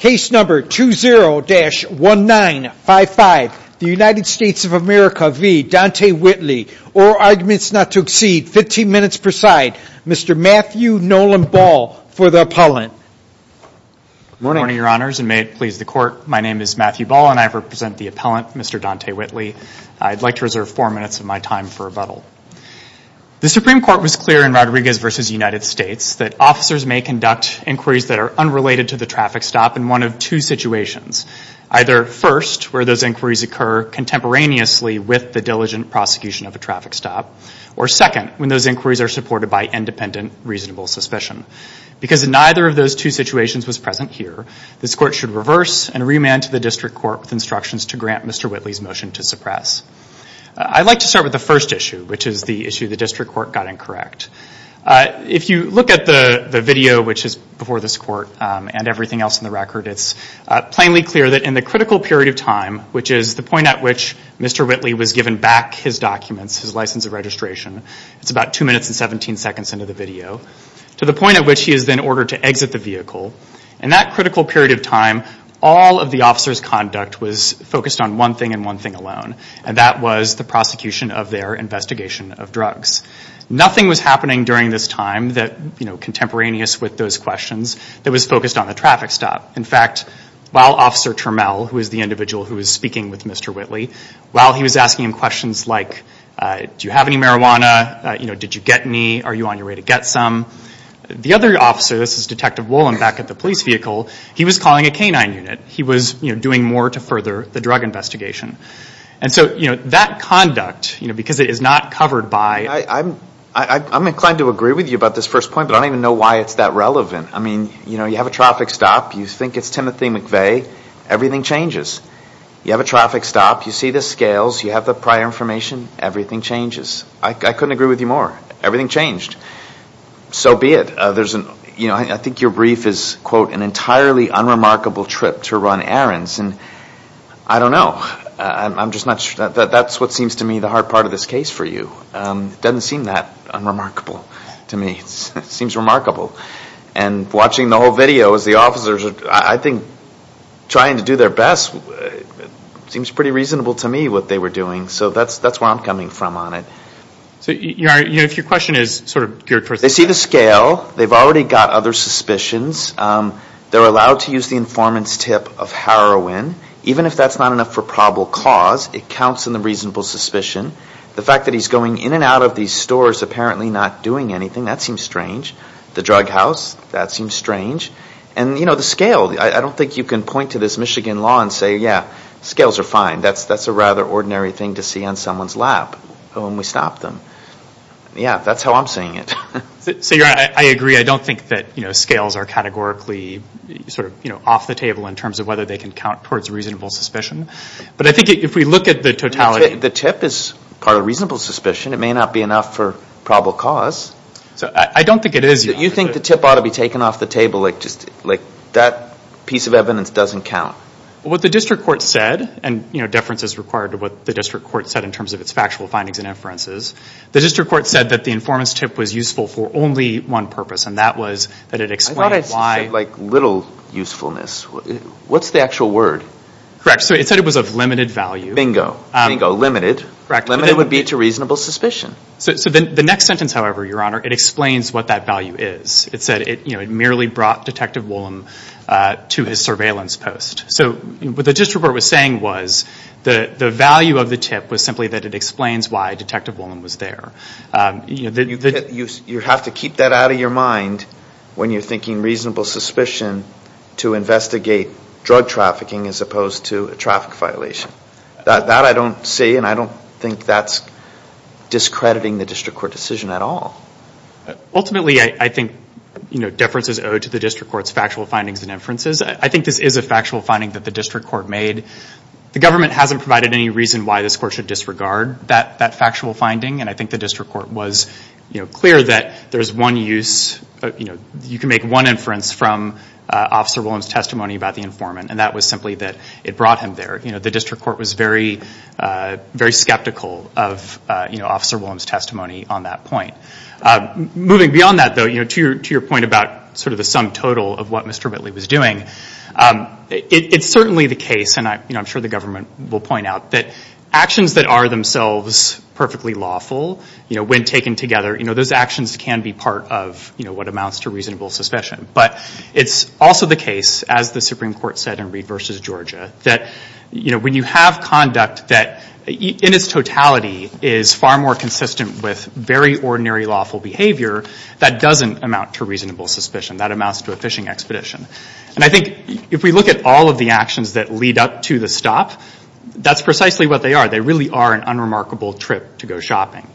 Case number 20-1955. The United States of America v. Dante Whitley. All arguments not to exceed 15 minutes per side. Mr. Matthew Nolan Ball for the appellant. Good morning your honors and may it please the court. My name is Matthew Ball and I represent the appellant, Mr. Dante Whitley. I'd like to reserve four minutes of my time for rebuttal. The Supreme Court was clear in Rodriguez v. United States that officers may conduct inquiries that are unrelated to the traffic stop in one of two situations. Either first, where those inquiries occur contemporaneously with the diligent prosecution of a traffic stop. Or second, when those inquiries are supported by independent reasonable suspicion. Because neither of those two situations was present here, this court should reverse and remand to the district court with instructions to grant Mr. Whitley's motion to suppress. I'd like to start with the first issue, which is the issue the district court got incorrect. If you look at the video, which is before this court and everything else in the record, it's plainly clear that in the critical period of time, which is the point at which Mr. Whitley was given back his documents, his license of registration. It's about two minutes and 17 seconds into the video. To the point at which he is then ordered to exit the vehicle. In that critical period of time, all of the officer's conduct was focused on one thing and one thing alone. And that was the prosecution of their investigation of drugs. Nothing was happening during this time that, you know, contemporaneous with those questions that was focused on the traffic stop. In fact, while Officer Turmel, who is the individual who was speaking with Mr. Whitley, while he was asking him questions like, do you have any marijuana? You know, did you get any? Are you on your way to get some? The other officer, this is Detective Wolin back at the police vehicle, he was calling a canine unit. He was, you know, doing more to further the drug investigation. And so, you know, that conduct, you know, because it is not covered by... I'm inclined to agree with you about this first point, but I don't even know why it's that relevant. I mean, you know, you have a traffic stop, you think it's Timothy McVeigh, everything changes. You have a traffic stop, you see the scales, you have the prior information, everything changes. I couldn't agree with you more. Everything changed. So be it. You know, I think your brief is, quote, an entirely unremarkable trip to run errands. And I don't know. I'm just not sure. That's what seems to me the hard part of this case for you. It doesn't seem that unremarkable to me. It seems remarkable. And watching the whole video as the officers, I think, trying to do their best, seems pretty reasonable to me what they were doing. So that's where I'm coming from on it. So if your question is sort of... They see the scale. They've already got other suspicions. They're allowed to use the informant's tip of heroin. Even if that's not enough for probable cause, it counts in the reasonable suspicion. The fact that he's going in and out of these stores apparently not doing anything, that seems strange. The drug house, that seems strange. And the scale. I don't think you can point to this Michigan law and say, yeah, scales are fine. That's a rather ordinary thing to see on someone's lap when we stop them. Yeah, that's how I'm seeing it. So you're right. I agree. I don't think that scales are categorically sort of off the table in terms of whether they can count towards reasonable suspicion. But I think if we look at the totality... The tip is part of reasonable suspicion. It may not be enough for probable cause. I don't think it is. So you think the tip ought to be taken off the table like that piece of evidence doesn't count? What the district court said, and deference is required to what the district court said in terms of its factual findings and inferences. The district court said that the informant's tip was useful for only one purpose, and that was that it explained why... I thought it said like little usefulness. What's the actual word? Correct. So it said it was of limited value. Bingo. Bingo. Limited. Limited would be to reasonable suspicion. So the next sentence, however, Your Honor, it explains what that value is. It said it merely brought Detective Woolham to his surveillance post. So what the district court was saying was the value of the tip was simply that it explains why Detective Woolham was there. You have to keep that out of your mind when you're thinking reasonable suspicion to investigate drug trafficking as opposed to a traffic violation. That I don't see, and I don't think that's discrediting the district court decision at all. Ultimately, I think deference is owed to the district court's factual findings and inferences. I think this is a factual finding that the district court made. The government hasn't provided any reason why this court should disregard that factual finding, and I think the district court was clear that there's one use. You can make one inference from Officer Woolham's testimony about the informant, and that was simply that it brought him there. The district court was very skeptical of Officer Woolham's testimony on that point. Moving beyond that, though, to your point about sort of the sum total of what Mr. Whitley was doing, it's certainly the case, and I'm sure the government will point out, that actions that are themselves perfectly lawful when taken together, those actions can be part of what amounts to reasonable suspicion. But it's also the case, as the Supreme Court said in Reed v. Georgia, that when you have conduct that in its totality is far more consistent with very ordinary lawful behavior, that doesn't amount to reasonable suspicion. That amounts to a fishing expedition. And I think if we look at all of the actions that lead up to the stop, that's precisely what they are. They really are an unremarkable trip to go shopping.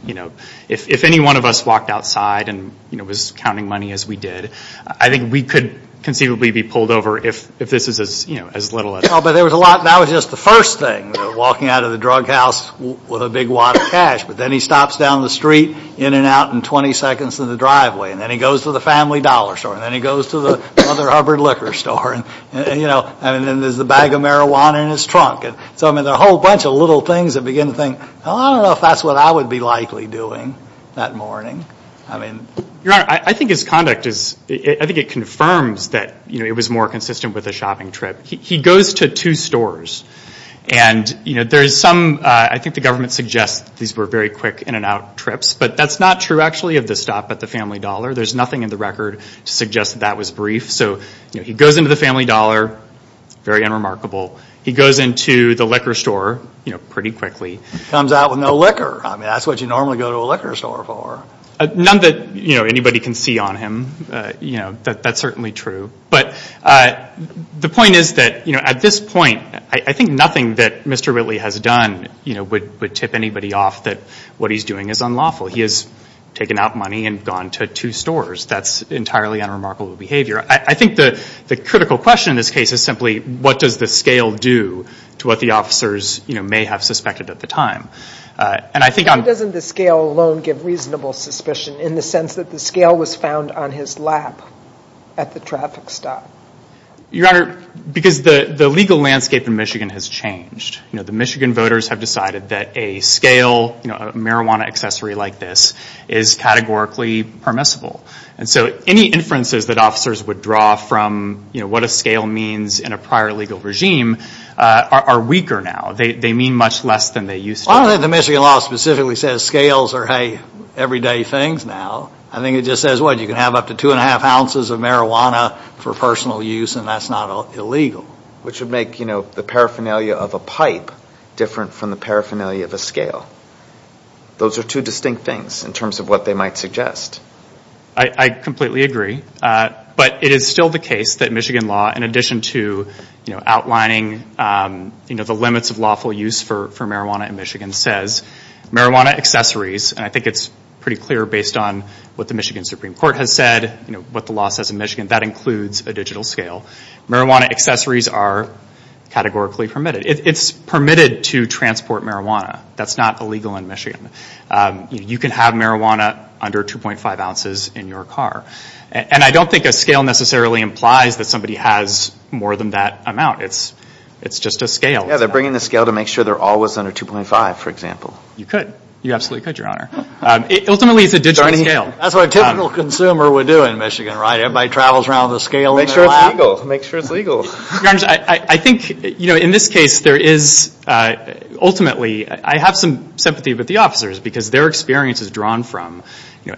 If any one of us walked outside and was counting money as we did, I think we could conceivably be pulled over if this is as little as... But that was just the first thing, walking out of the drug house with a big wad of cash, but then he stops down the street, in and out in 20 seconds in the driveway, and then he goes to the Family Dollar Store, and then he goes to the Mother Hubbard Liquor Store, and then there's a bag of marijuana in his trunk. So there are a whole bunch of little things that begin to think, I don't know if that's what I would be likely doing that morning. Your Honor, I think it confirms that it was more consistent with a shopping trip. He goes to two stores, and I think the government suggests these were very quick in and out trips, but that's not true actually of the stop at the Family Dollar. There's nothing in the record to suggest that that was brief. So he goes into the Family Dollar, very unremarkable. He goes into the liquor store pretty quickly. Comes out with no liquor. I mean, that's what you normally go to a liquor store for. None that anybody can see on him. That's certainly true. But the point is that at this point, I think nothing that Mr. Whitley has done would tip anybody off that what he's doing is unlawful. He has taken out money and gone to two stores. That's entirely unremarkable behavior. I think the critical question in this case is simply, what does the scale do to what the officers may have suspected at the time? Why doesn't the scale alone give reasonable suspicion in the sense that the scale was found on his lap at the traffic stop? Your Honor, because the legal landscape in Michigan has changed. The Michigan voters have decided that a scale, a marijuana accessory like this, is categorically permissible. And so any inferences that officers would draw from what a scale means in a prior legal regime are weaker now. They mean much less than they used to. Well, I don't think the Michigan law specifically says scales are, hey, everyday things now. I think it just says, well, you can have up to two and a half ounces of marijuana for personal use, and that's not illegal. Which would make the paraphernalia of a pipe different from the paraphernalia of a scale. Those are two distinct things in terms of what they might suggest. I completely agree. But it is still the case that Michigan law, in addition to outlining the limits of lawful use for marijuana in Michigan, says marijuana accessories, and I think it's pretty clear based on what the Michigan Supreme Court has said, what the law says in Michigan, that includes a digital scale, marijuana accessories are categorically permitted. It's permitted to transport marijuana. That's not illegal in Michigan. You can have marijuana under 2.5 ounces in your car. And I don't think a scale necessarily implies that somebody has more than that amount. It's just a scale. Yeah, they're bringing the scale to make sure they're always under 2.5, for example. You could. You absolutely could, Your Honor. Ultimately, it's a digital scale. That's what a typical consumer would do in Michigan, right? Everybody travels around with a scale in their lap. Make sure it's legal. Your Honor, I think in this case, ultimately, I have some sympathy with the officers because their experience is drawn from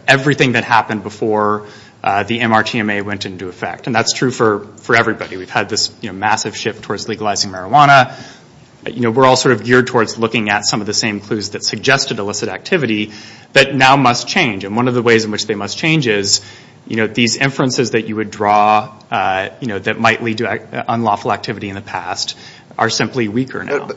everything that happened before the MRTMA went into effect. And that's true for everybody. We've had this massive shift towards legalizing marijuana. We're all sort of geared towards looking at some of the same clues that suggested illicit activity that now must change. And one of the ways in which they must change is these inferences that you would draw that might lead to unlawful activity in the past are simply weaker now.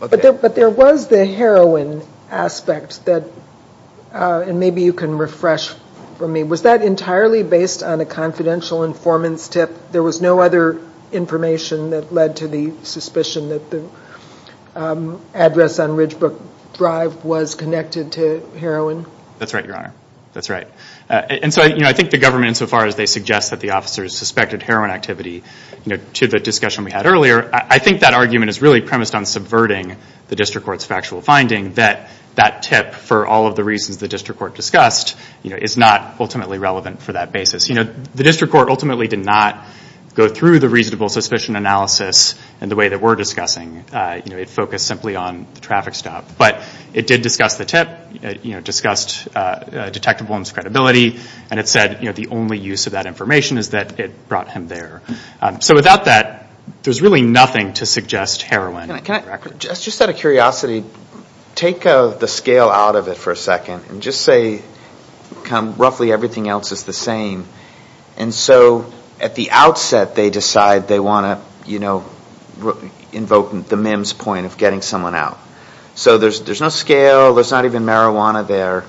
But there was the heroin aspect, and maybe you can refresh for me. Was that entirely based on a confidential informant's tip? There was no other information that led to the suspicion that the address on Ridgebrook Drive was connected to heroin? That's right, Your Honor. That's right. And so I think the government, insofar as they suggest that the officers suspected heroin activity, to the discussion we had earlier, I think that argument is really premised on subverting the district court's factual finding that that tip, for all of the reasons the district court discussed, is not ultimately relevant for that basis. The district court ultimately did not go through the reasonable suspicion analysis in the way that we're discussing. It focused simply on the traffic stop. But it did discuss the tip, it discussed Detective Bloom's credibility, and it said the only use of that information is that it brought him there. So without that, there's really nothing to suggest heroin. Just out of curiosity, take the scale out of it for a second and just say roughly everything else is the same. And so at the outset they decide they want to invoke the MIMS point of getting someone out. So there's no scale, there's not even marijuana there.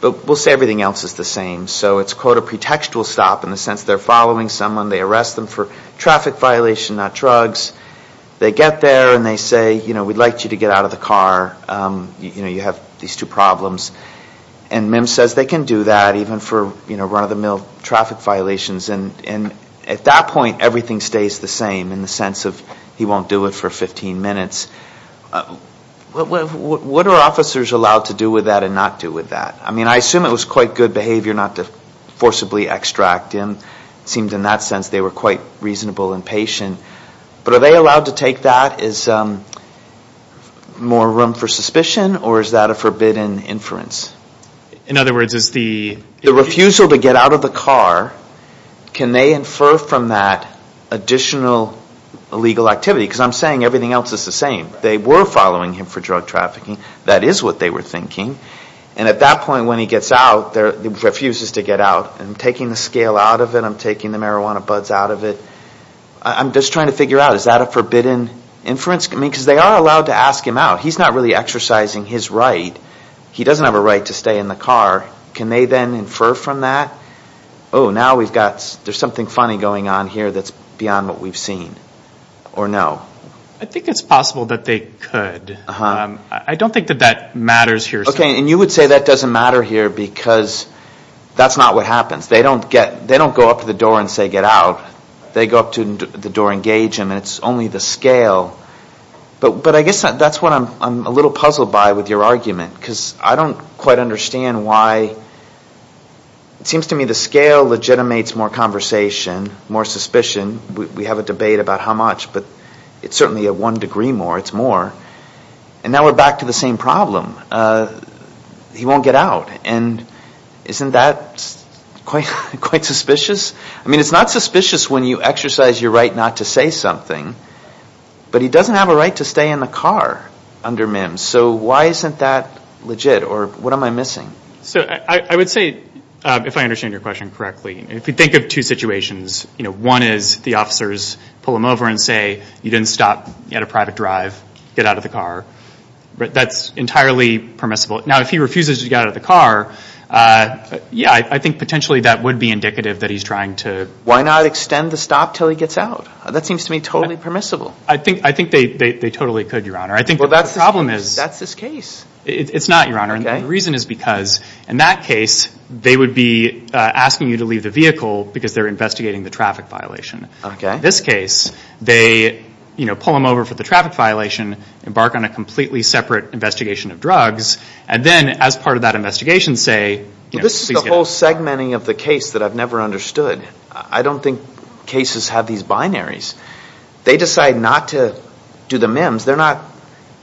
But we'll say everything else is the same. So it's quote a pretextual stop in the sense they're following someone, they arrest them for traffic violation, not drugs. They get there and they say, you know, we'd like you to get out of the car. You know, you have these two problems. And MIMS says they can do that even for, you know, run-of-the-mill traffic violations. And at that point everything stays the same in the sense of he won't do it for 15 minutes. What are officers allowed to do with that and not do with that? I mean, I assume it was quite good behavior not to forcibly extract him. It seemed in that sense they were quite reasonable and patient. But are they allowed to take that? Is more room for suspicion or is that a forbidden inference? In other words, is the... The refusal to get out of the car, can they infer from that additional illegal activity? Because I'm saying everything else is the same. They were following him for drug trafficking. That is what they were thinking. And at that point when he gets out, he refuses to get out. I'm taking the scale out of it. I'm taking the marijuana buds out of it. I'm just trying to figure out, is that a forbidden inference? I mean, because they are allowed to ask him out. He's not really exercising his right. He doesn't have a right to stay in the car. Can they then infer from that? Oh, now we've got... There's something funny going on here that's beyond what we've seen. Or no? I think it's possible that they could. I don't think that that matters here. Okay, and you would say that doesn't matter here because that's not what happens. They don't go up to the door and say, get out. They go up to the door and engage him and it's only the scale. But I guess that's what I'm a little puzzled by with your argument because I don't quite understand why... It seems to me the scale legitimates more conversation, more suspicion. We have a debate about how much. But it's certainly a one degree more. It's more. And now we're back to the same problem. He won't get out. And isn't that quite suspicious? I mean, it's not suspicious when you exercise your right not to say something. But he doesn't have a right to stay in the car under MIMS. So why isn't that legit? Or what am I missing? I would say, if I understand your question correctly, if you think of two situations, one is the officers pull him over and say, you didn't stop at a private drive. Get out of the car. That's entirely permissible. Now, if he refuses to get out of the car, yeah, I think potentially that would be indicative that he's trying to... Why not extend the stop until he gets out? That seems to me totally permissible. I think they totally could, Your Honor. I think the problem is... Well, that's his case. It's not, Your Honor. And the reason is because, in that case, they would be asking you to leave the vehicle because they're investigating the traffic violation. In this case, they pull him over for the traffic violation, embark on a completely separate investigation of drugs, and then, as part of that investigation, say... This is the whole segmenting of the case that I've never understood. I don't think cases have these binaries. They decide not to do the MIMS.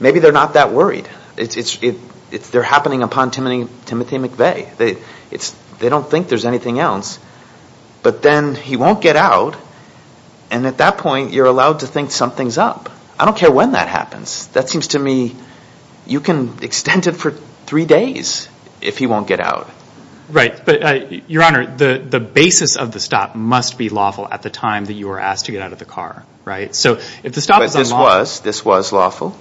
Maybe they're not that worried. They're happening upon Timothy McVeigh. They don't think there's anything else. But then he won't get out, and at that point, you're allowed to think something's up. I don't care when that happens. That seems to me... You can extend it for three days if he won't get out. Right. But, Your Honor, the basis of the stop must be lawful at the time that you are asked to get out of the car. So if the stop is unlawful... But this was lawful?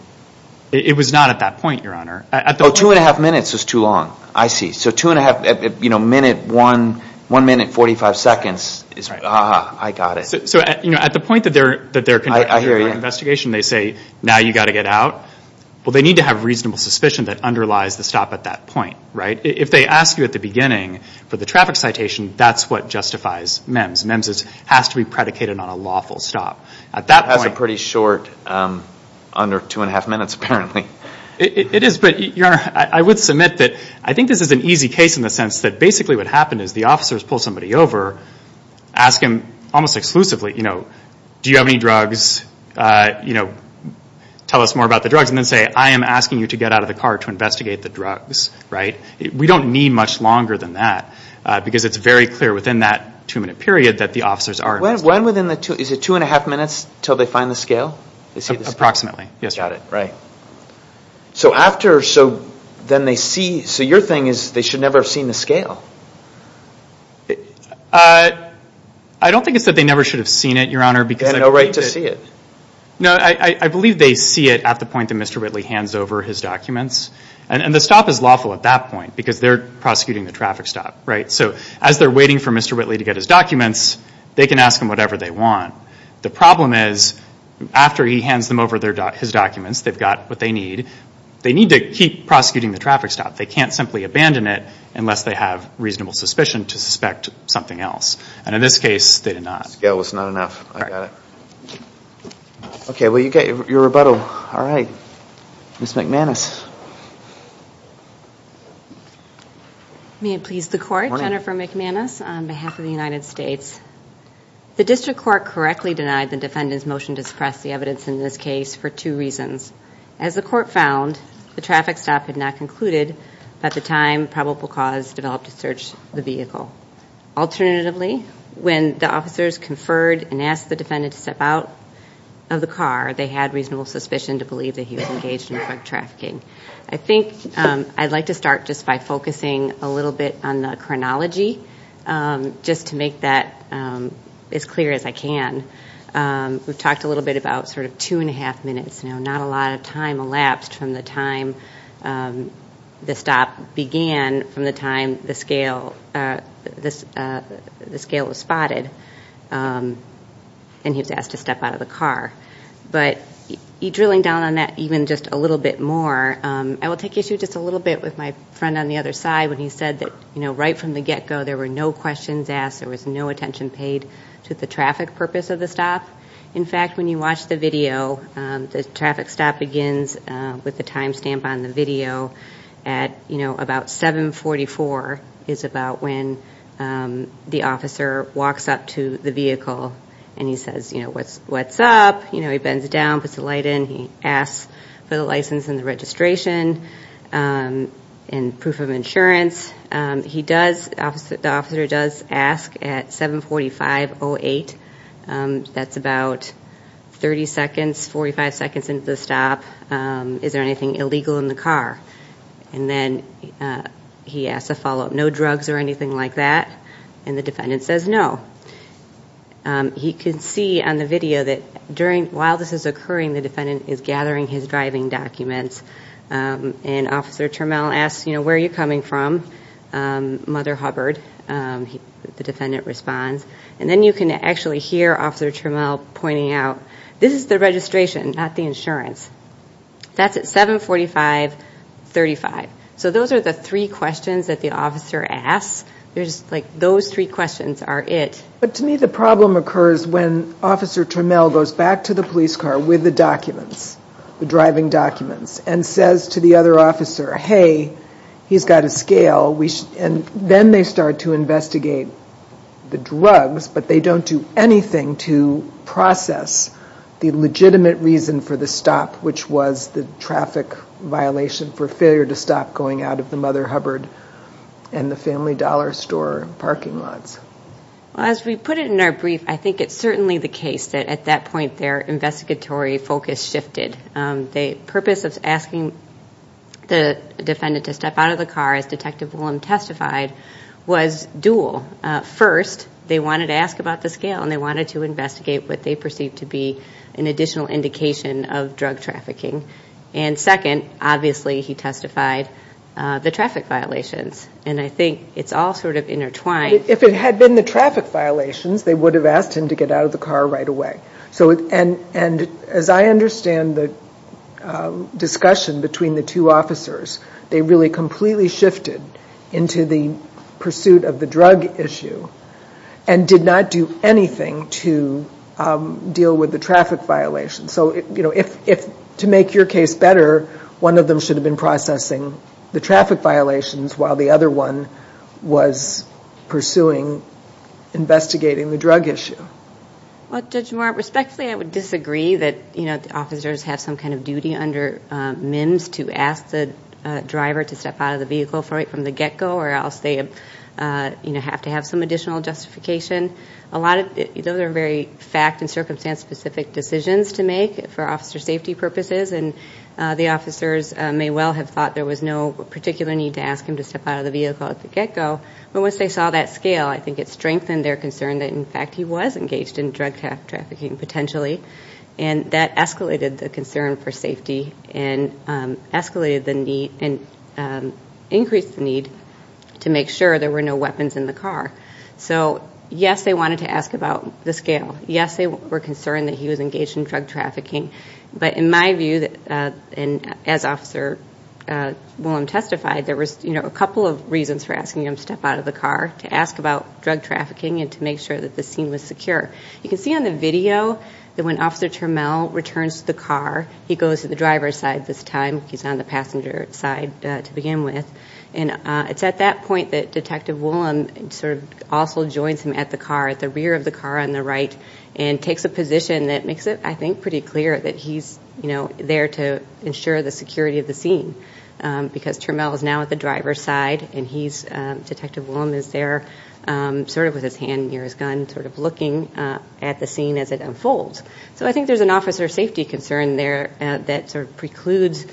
It was not at that point, Your Honor. Oh, two and a half minutes is too long. I see. So two and a half... One minute, 45 seconds is... Ah, I got it. So at the point that they're conducting their investigation, they say, now you've got to get out. Well, they need to have reasonable suspicion that underlies the stop at that point. If they ask you at the beginning for the traffic citation, that's what justifies MEMS. MEMS has to be predicated on a lawful stop. At that point... That's a pretty short... Under two and a half minutes, apparently. It is, but, Your Honor, I would submit that... I think this is an easy case in the sense that basically what happened is the officers pull somebody over, ask him, almost exclusively, do you have any drugs, tell us more about the drugs, and then say, I am asking you to get out of the car to investigate the drugs, right? We don't need much longer than that because it's very clear within that two-minute period that the officers are investigating. When within the two... Is it two and a half minutes until they find the scale? Approximately, yes, Your Honor. Got it, right. So after... So then they see... So your thing is they should never have seen the scale. I don't think it's that they never should have seen it, Your Honor, because... They had no right to see it. No, I believe they see it at the point that Mr. Whitley hands over his documents. And the stop is lawful at that point because they're prosecuting the traffic stop, right? So as they're waiting for Mr. Whitley to get his documents, they can ask him whatever they want. The problem is after he hands them over his documents, they've got what they need. They need to keep prosecuting the traffic stop. They can't simply abandon it unless they have reasonable suspicion to suspect something else. And in this case, they did not. The scale was not enough. I got it. Okay, well, you got your rebuttal. All right. Ms. McManus. May it please the Court. Good morning. Jennifer McManus on behalf of the United States. The district court correctly denied the defendant's motion to suppress the evidence in this case for two reasons. As the court found, the traffic stop had not concluded by the time probable cause developed to search the vehicle. Alternatively, when the officers conferred and asked the defendant to step out of the car, they had reasonable suspicion to believe that he was engaged in drug trafficking. I think I'd like to start just by focusing a little bit on the chronology just to make that as clear as I can. We've talked a little bit about sort of two and a half minutes now. Not a lot of time elapsed from the time the stop began from the time the scale was spotted. And he was asked to step out of the car. But drilling down on that even just a little bit more, I will take issue just a little bit with my friend on the other side when he said that right from the get-go, there were no questions asked, there was no attention paid to the traffic purpose of the stop. In fact, when you watch the video, the traffic stop begins with the time stamp on the video at about 7.44 is about when the officer walks up to the vehicle and he says, you know, what's up? You know, he bends down, puts the light in, he asks for the license and the registration and proof of insurance. The officer does ask at 7.45.08, that's about 30 seconds, 45 seconds into the stop, is there anything illegal in the car? And then he asks a follow-up, no drugs or anything like that? And the defendant says no. He can see on the video that while this is occurring, the defendant is gathering his driving documents and Officer Turmell asks, you know, where are you coming from? Mother Hubbard, the defendant responds. And then you can actually hear Officer Turmell pointing out, this is the registration, not the insurance. That's at 7.45.35. So those are the three questions that the officer asks. Those three questions are it. But to me the problem occurs when Officer Turmell goes back to the police car with the documents, the driving documents, and says to the other officer, hey, he's got a scale, and then they start to investigate the drugs, but they don't do anything to process the legitimate reason for the stop, which was the traffic violation for failure to stop going out of the Mother Hubbard and the Family Dollar Store parking lots. As we put it in our brief, I think it's certainly the case that at that point their investigatory focus shifted. The purpose of asking the defendant to step out of the car, as Detective Willem testified, was dual. First, they wanted to ask about the scale, and they wanted to investigate what they perceived to be an additional indication of drug trafficking. And second, obviously he testified, the traffic violations. And I think it's all sort of intertwined. If it had been the traffic violations, they would have asked him to get out of the car right away. And as I understand the discussion between the two officers, they really completely shifted into the pursuit of the drug issue and did not do anything to deal with the traffic violations. So, you know, to make your case better, one of them should have been processing the traffic violations while the other one was pursuing investigating the drug issue. Well, Judge Moore, respectfully I would disagree that, you know, they should have asked the driver to step out of the vehicle right from the get-go or else they, you know, have to have some additional justification. Those are very fact- and circumstance-specific decisions to make for officer safety purposes, and the officers may well have thought there was no particular need to ask him to step out of the vehicle at the get-go. But once they saw that scale, I think it strengthened their concern that, in fact, he was engaged in drug trafficking potentially. And that escalated the concern for safety and escalated the need and increased the need to make sure there were no weapons in the car. So, yes, they wanted to ask about the scale. Yes, they were concerned that he was engaged in drug trafficking. But in my view, and as Officer Willem testified, there was, you know, a couple of reasons for asking him to step out of the car, to ask about drug trafficking and to make sure that the scene was secure. You can see on the video that when Officer Turmel returns to the car, he goes to the driver's side this time. He's on the passenger side to begin with. And it's at that point that Detective Willem sort of also joins him at the car, at the rear of the car on the right, and takes a position that makes it, I think, pretty clear that he's, you know, there to ensure the security of the scene. Because Turmel is now at the driver's side, and he's, Detective Willem is there, sort of with his hand near his gun, sort of looking at the scene as it unfolds. So I think there's an officer safety concern there that sort of precludes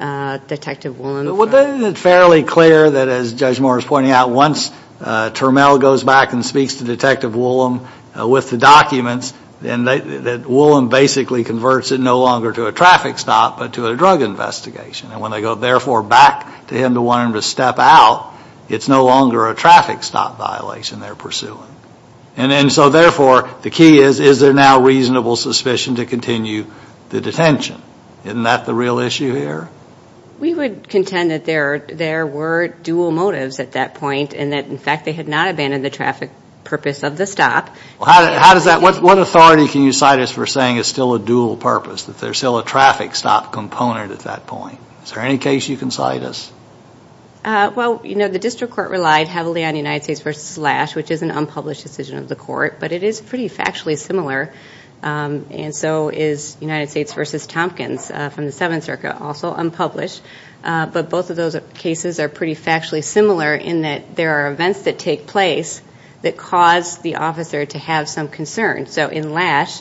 Detective Willem. Isn't it fairly clear that, as Judge Moore was pointing out, once Turmel goes back and speaks to Detective Willem with the documents, that Willem basically converts it no longer to a traffic stop but to a drug investigation? And when they go, therefore, back to him to want him to step out, it's no longer a traffic stop violation they're pursuing. And so, therefore, the key is, is there now reasonable suspicion to continue the detention? Isn't that the real issue here? We would contend that there were dual motives at that point, and that, in fact, they had not abandoned the traffic purpose of the stop. How does that, what authority can you cite as for saying it's still a dual purpose, that there's still a traffic stop component at that point? Is there any case you can cite us? Well, you know, the district court relied heavily on United States v. Lash, which is an unpublished decision of the court, but it is pretty factually similar. And so is United States v. Tompkins from the Seventh Circuit, also unpublished. But both of those cases are pretty factually similar in that there are events that take place that cause the officer to have some concern. So in Lash,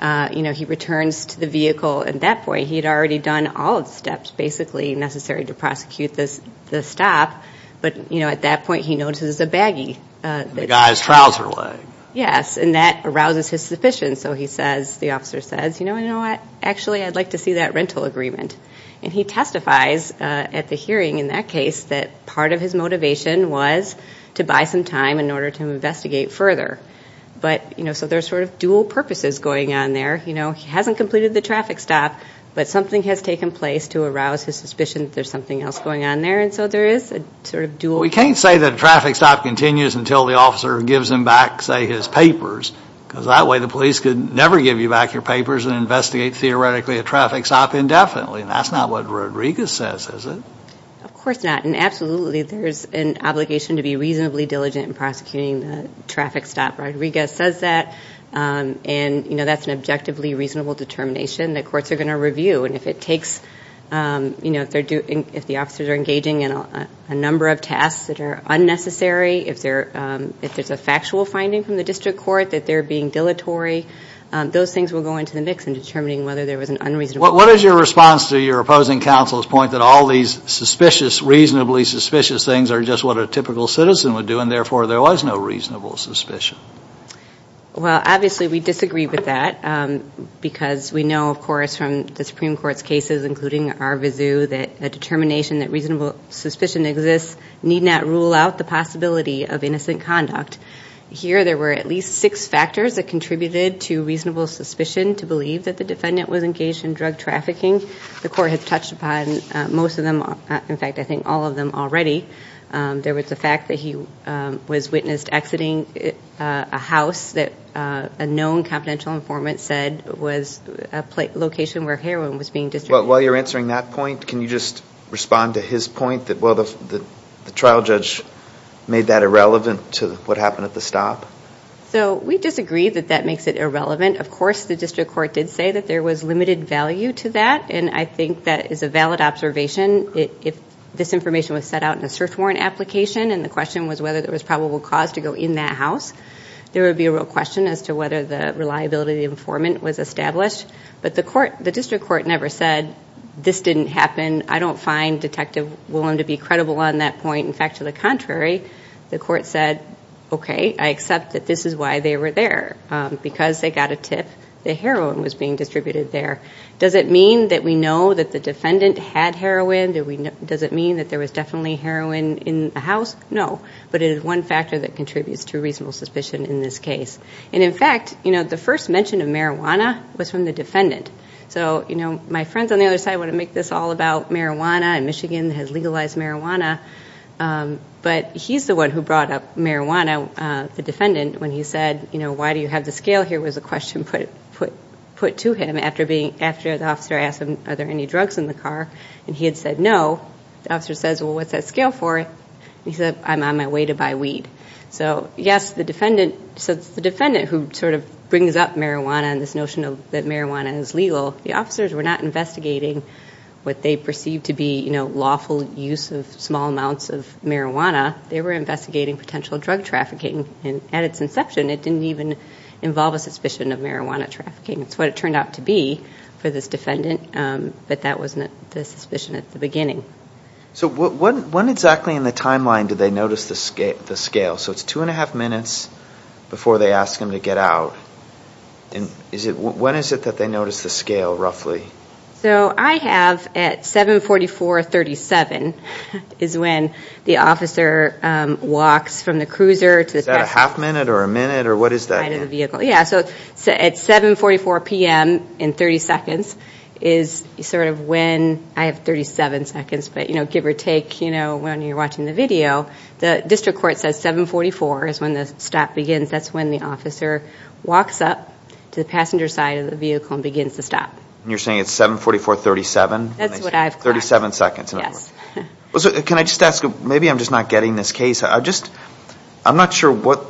you know, he returns to the vehicle at that point. He had already done all the steps basically necessary to prosecute the stop, but, you know, at that point he notices a baggie. The guy's trouser leg. Yes, and that arouses his suspicions. So he says, the officer says, you know what, actually I'd like to see that rental agreement. And he testifies at the hearing in that case that part of his motivation was to buy some time in order to investigate further. But, you know, so there's sort of dual purposes going on there. You know, he hasn't completed the traffic stop, but something has taken place to arouse his suspicion that there's something else going on there. And so there is a sort of dual. We can't say that a traffic stop continues until the officer gives him back, say, his papers. Because that way the police could never give you back your papers and investigate theoretically a traffic stop indefinitely. And that's not what Rodriguez says, is it? Of course not. And absolutely there's an obligation to be reasonably diligent in prosecuting the traffic stop. Rodriguez says that. And, you know, that's an objectively reasonable determination that courts are going to review. And if it takes, you know, if the officers are engaging in a number of tasks that are unnecessary, if there's a factual finding from the district court that they're being dilatory, those things will go into the mix in determining whether there was an unreasonable decision. What is your response to your opposing counsel's point that all these suspicious, reasonably suspicious things are just what a typical citizen would do, and therefore there was no reasonable suspicion? Well, obviously we disagree with that because we know, of course, from the Supreme Court's cases, including our vizu, that a determination that reasonable suspicion exists need not rule out the possibility of innocent conduct. Here there were at least six factors that contributed to reasonable suspicion to believe that the defendant was engaged in drug trafficking. The court has touched upon most of them, in fact I think all of them already. There was the fact that he was witnessed exiting a house that a known confidential informant said was a location where heroin was being distributed. While you're answering that point, can you just respond to his point that, well, the trial judge made that irrelevant to what happened at the stop? So we disagree that that makes it irrelevant. Of course the district court did say that there was limited value to that, and I think that is a valid observation. If this information was set out in a search warrant application and the question was whether there was probable cause to go in that house, there would be a real question as to whether the reliability of the informant was established. But the district court never said, this didn't happen, I don't find Detective Willem to be credible on that point. In fact, to the contrary, the court said, okay, I accept that this is why they were there, because they got a tip that heroin was being distributed there. Does it mean that we know that the defendant had heroin? Does it mean that there was definitely heroin in the house? No, but it is one factor that contributes to reasonable suspicion in this case. And in fact, the first mention of marijuana was from the defendant. So my friends on the other side want to make this all about marijuana, and Michigan has legalized marijuana, but he's the one who brought up marijuana, the defendant, when he said, you know, why do you have the scale here, was a question put to him after the officer asked him, are there any drugs in the car? And he had said no. The officer says, well, what's that scale for? And he said, I'm on my way to buy weed. So yes, the defendant who sort of brings up marijuana and this notion that marijuana is legal, the officers were not investigating what they perceived to be, you know, lawful use of small amounts of marijuana. They were investigating potential drug trafficking. And at its inception, it didn't even involve a suspicion of marijuana trafficking. It's what it turned out to be for this defendant, but that wasn't the suspicion at the beginning. So when exactly in the timeline did they notice the scale? So it's two and a half minutes before they ask him to get out. When is it that they notice the scale, roughly? So I have at 744.37 is when the officer walks from the cruiser to the passenger. Is that a half minute or a minute or what is that? Yeah, so at 744.00 p.m. in 30 seconds is sort of when, I have 37 seconds, but, you know, give or take, you know, when you're watching the video, the district court says 744.00 is when the stop begins. That's when the officer walks up to the passenger side of the vehicle and begins to stop. And you're saying it's 744.37? That's what I've got. 37 seconds. Yes. Can I just ask, maybe I'm just not getting this case. I'm not sure what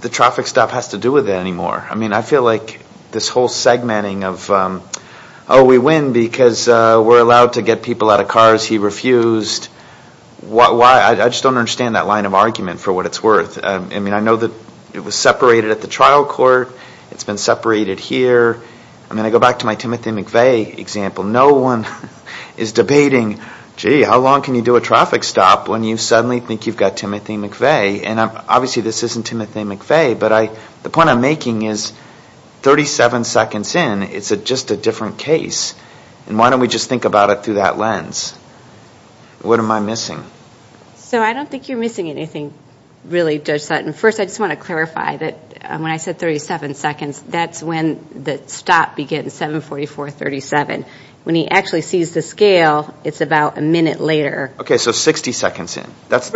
the traffic stop has to do with it anymore. I mean, I feel like this whole segmenting of, oh, we win because we're allowed to get people out of cars, he refused. I just don't understand that line of argument for what it's worth. I mean, I know that it was separated at the trial court. It's been separated here. I mean, I go back to my Timothy McVeigh example. No one is debating, gee, how long can you do a traffic stop when you suddenly think you've got Timothy McVeigh? And obviously this isn't Timothy McVeigh, but the point I'm making is 37 seconds in, it's just a different case. And why don't we just think about it through that lens? What am I missing? So I don't think you're missing anything, really, Judge Sutton. First, I just want to clarify that when I said 37 seconds, that's when the stop begins, 7-44-37. When he actually sees the scale, it's about a minute later. Okay, so 60 seconds in. Just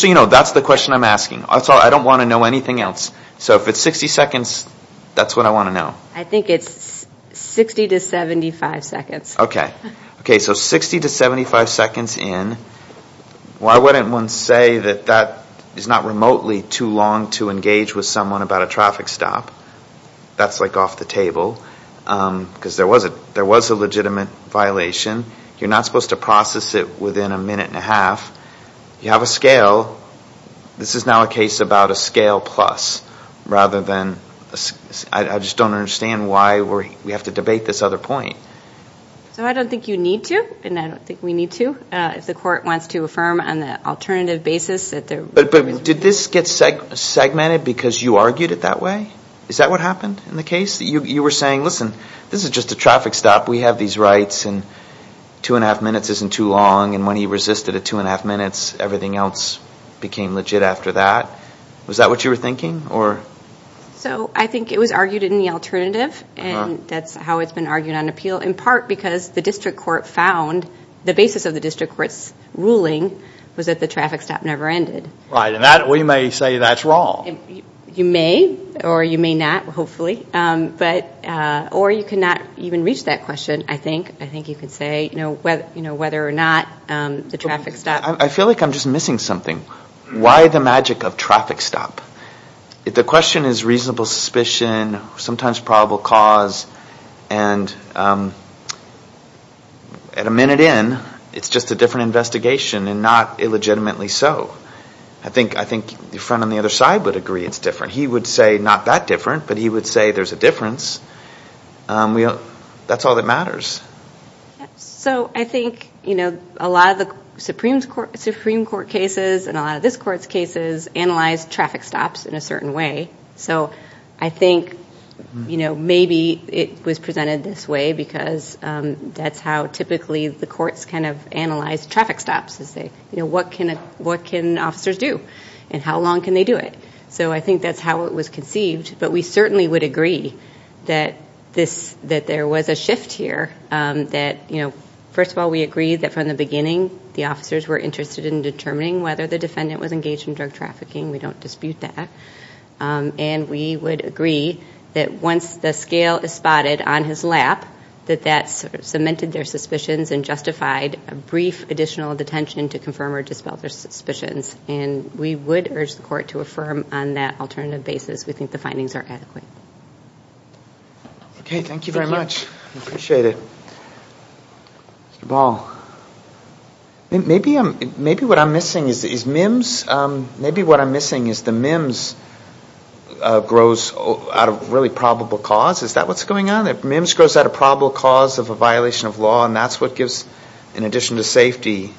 so you know, that's the question I'm asking. I don't want to know anything else. So if it's 60 seconds, that's what I want to know. I think it's 60 to 75 seconds. Okay. Okay, so 60 to 75 seconds in. Why wouldn't one say that that is not remotely too long to engage with someone about a traffic stop? That's like off the table. Because there was a legitimate violation. You're not supposed to process it within a minute and a half. You have a scale. This is now a case about a scale plus, rather than... I just don't understand why we have to debate this other point. So I don't think you need to, and I don't think we need to. If the court wants to affirm on the alternative basis that there... But did this get segmented because you argued it that way? Is that what happened in the case? You were saying, listen, this is just a traffic stop. We have these rights, and two and a half minutes isn't too long. And when he resisted a two and a half minutes, everything else became legit after that. Was that what you were thinking? So I think it was argued in the alternative, and that's how it's been argued on appeal. In part because the district court found the basis of the district court's ruling was that the traffic stop never ended. Right, and we may say that's wrong. You may, or you may not, hopefully. Or you cannot even reach that question, I think. I think you could say whether or not the traffic stop... I feel like I'm just missing something. Why the magic of traffic stop? The question is reasonable suspicion, sometimes probable cause. And at a minute in, it's just a different investigation, and not illegitimately so. I think the friend on the other side would agree it's different. He would say not that different, but he would say there's a difference. That's all that matters. So I think a lot of the Supreme Court cases and a lot of this court's cases analyze traffic stops in a certain way. So I think maybe it was presented this way because that's how typically the courts kind of analyze traffic stops. What can officers do, and how long can they do it? So I think that's how it was conceived, but we certainly would agree that there was a shift here. First of all, we agree that from the beginning the officers were interested in determining whether the defendant was engaged in drug trafficking. We don't dispute that. And we would agree that once the scale is spotted on his lap, that that cemented their suspicions and justified a brief additional detention to confirm or dispel their suspicions. And we would urge the court to affirm on that alternative basis. We think the findings are adequate. Okay, thank you very much. I appreciate it. Mr. Ball. Maybe what I'm missing is the MIMS grows out of really probable cause. Is that what's going on? MIMS grows out of probable cause of a violation of law, and that's what gives, in addition to safety,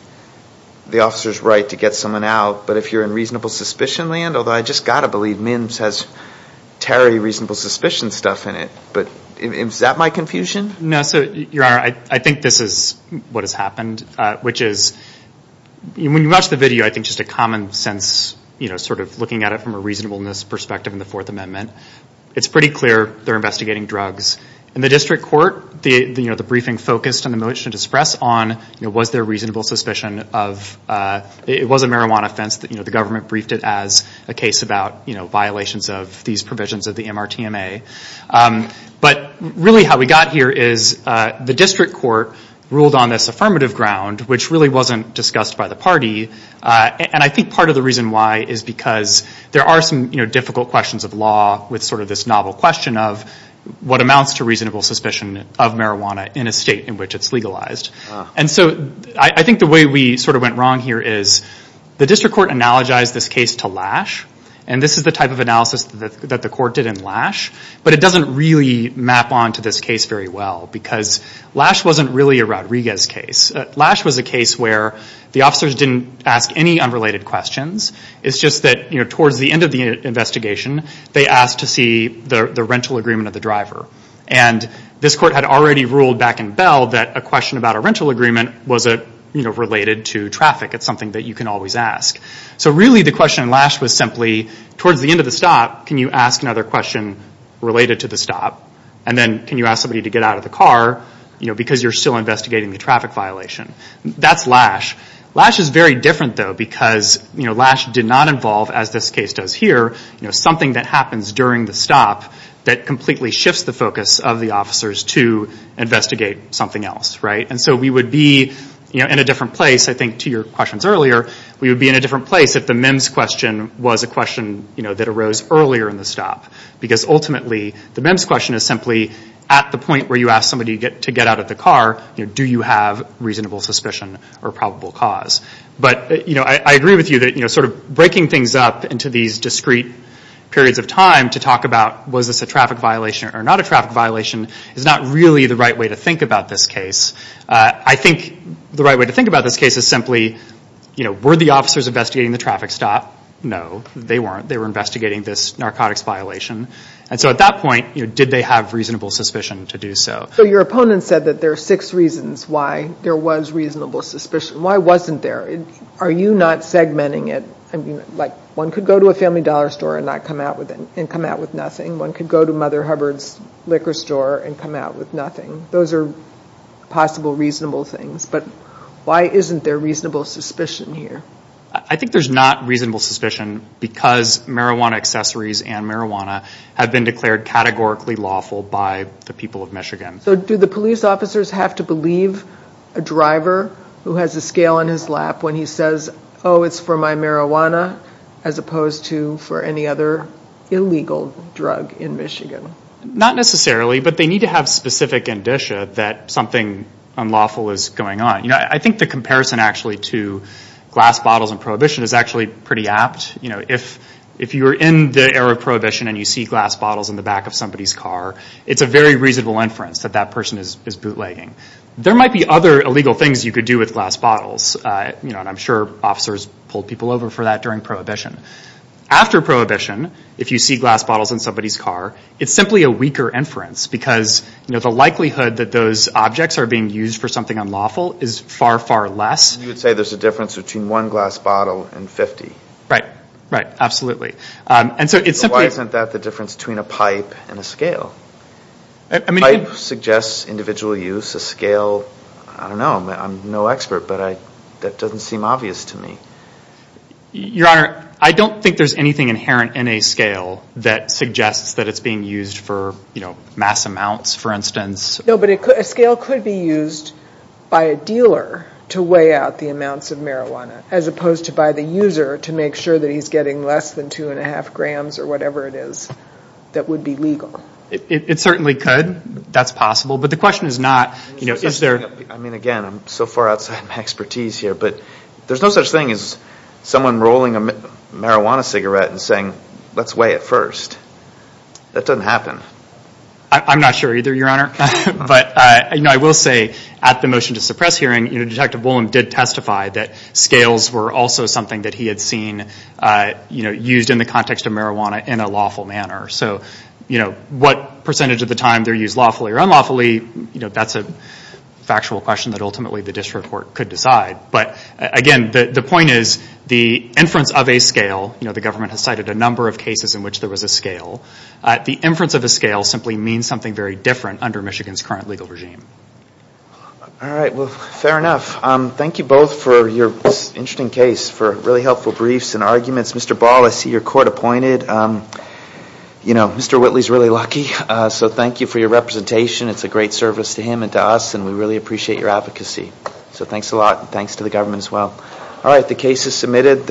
the officer's right to get someone out. But if you're in reasonable suspicion land, although I just got to believe MIMS has Terry reasonable suspicion stuff in it, but is that my confusion? No, so, Your Honor, I think this is what has happened, which is when you watch the video, I think just a common sense sort of looking at it from a reasonableness perspective in the Fourth Amendment, it's pretty clear they're investigating drugs. In the district court, the briefing focused on the motion to express on was there reasonable suspicion of, it was a marijuana offense that the government briefed it as a case about violations of these provisions of the MRTMA. But really how we got here is the district court ruled on this affirmative ground, which really wasn't discussed by the party. And I think part of the reason why is because there are some difficult questions of law with sort of this novel question of what amounts to reasonable suspicion of marijuana in a state in which it's legalized. And so I think the way we sort of went wrong here is the district court analogized this case to Lash. And this is the type of analysis that the court did in Lash. But it doesn't really map onto this case very well because Lash wasn't really a Rodriguez case. Lash was a case where the officers didn't ask any unrelated questions. It's just that towards the end of the investigation, they asked to see the rental agreement of the driver. And this court had already ruled back in Bell that a question about a rental agreement wasn't related to traffic. It's something that you can always ask. So really the question in Lash was simply towards the end of the stop, can you ask another question related to the stop? And then can you ask somebody to get out of the car because you're still investigating the traffic violation? That's Lash. Lash is very different though because Lash did not involve, as this case does here, something that happens during the stop that completely shifts the focus of the officers to investigate something else. And so we would be in a different place, I think to your questions earlier, we would be in a different place if the MEMS question was a question that arose earlier in the stop. Because ultimately the MEMS question is simply at the point where you ask somebody to get out of the car, do you have reasonable suspicion or probable cause? But I agree with you that sort of breaking things up into these discrete periods of time to talk about, was this a traffic violation or not a traffic violation, is not really the right way to think about this case. I think the right way to think about this case is simply, were the officers investigating the traffic stop? No, they weren't. They were investigating this narcotics violation. And so at that point, did they have reasonable suspicion to do so? So your opponent said that there are six reasons why there was reasonable suspicion. Why wasn't there? Are you not segmenting it? I mean, like one could go to a Family Dollar store and come out with nothing. One could go to Mother Hubbard's liquor store and come out with nothing. Those are possible reasonable things. But why isn't there reasonable suspicion here? I think there's not reasonable suspicion because marijuana accessories and marijuana have been declared categorically lawful by the people of Michigan. So do the police officers have to believe a driver who has a scale on his lap when he says, oh, it's for my marijuana as opposed to for any other illegal drug in Michigan? Not necessarily, but they need to have specific indicia that something unlawful is going on. I think the comparison actually to glass bottles and prohibition is actually pretty apt. If you're in the era of prohibition and you see glass bottles in the back of somebody's car, it's a very reasonable inference that that person is bootlegging. There might be other illegal things you could do with glass bottles, and I'm sure officers pulled people over for that during prohibition. After prohibition, if you see glass bottles in somebody's car, it's simply a weaker inference because the likelihood that those objects are being used for something unlawful is far, far less. You would say there's a difference between one glass bottle and 50. Right, absolutely. Why isn't that the difference between a pipe and a scale? A pipe suggests individual use. A scale, I don't know. I'm no expert, but that doesn't seem obvious to me. Your Honor, I don't think there's anything inherent in a scale that suggests that it's being used for mass amounts, for instance. No, but a scale could be used by a dealer to weigh out the amounts of marijuana as opposed to by the user to make sure that he's getting less than 2.5 grams or whatever it is that would be legal. It certainly could. That's possible. But the question is not, you know, is there... I mean, again, I'm so far outside my expertise here, but there's no such thing as someone rolling a marijuana cigarette and saying, let's weigh it first. That doesn't happen. I'm not sure either, Your Honor. But I will say at the motion to suppress hearing, Detective Woolen did testify that scales were also something that he had seen used in the context of marijuana in a lawful manner. So what percentage of the time they're used lawfully or unlawfully, that's a factual question that ultimately the district court could decide. But again, the point is the inference of a scale, the government has cited a number of cases in which there was a scale. The inference of a scale simply means something very different under Michigan's current legal regime. All right. Well, fair enough. Thank you both for your interesting case, for really helpful briefs and arguments. Mr. Ball, I see you're court-appointed. You know, Mr. Whitley's really lucky. So thank you for your representation. It's a great service to him and to us, and we really appreciate your advocacy. So thanks a lot. Thanks to the government as well. All right. The case is submitted.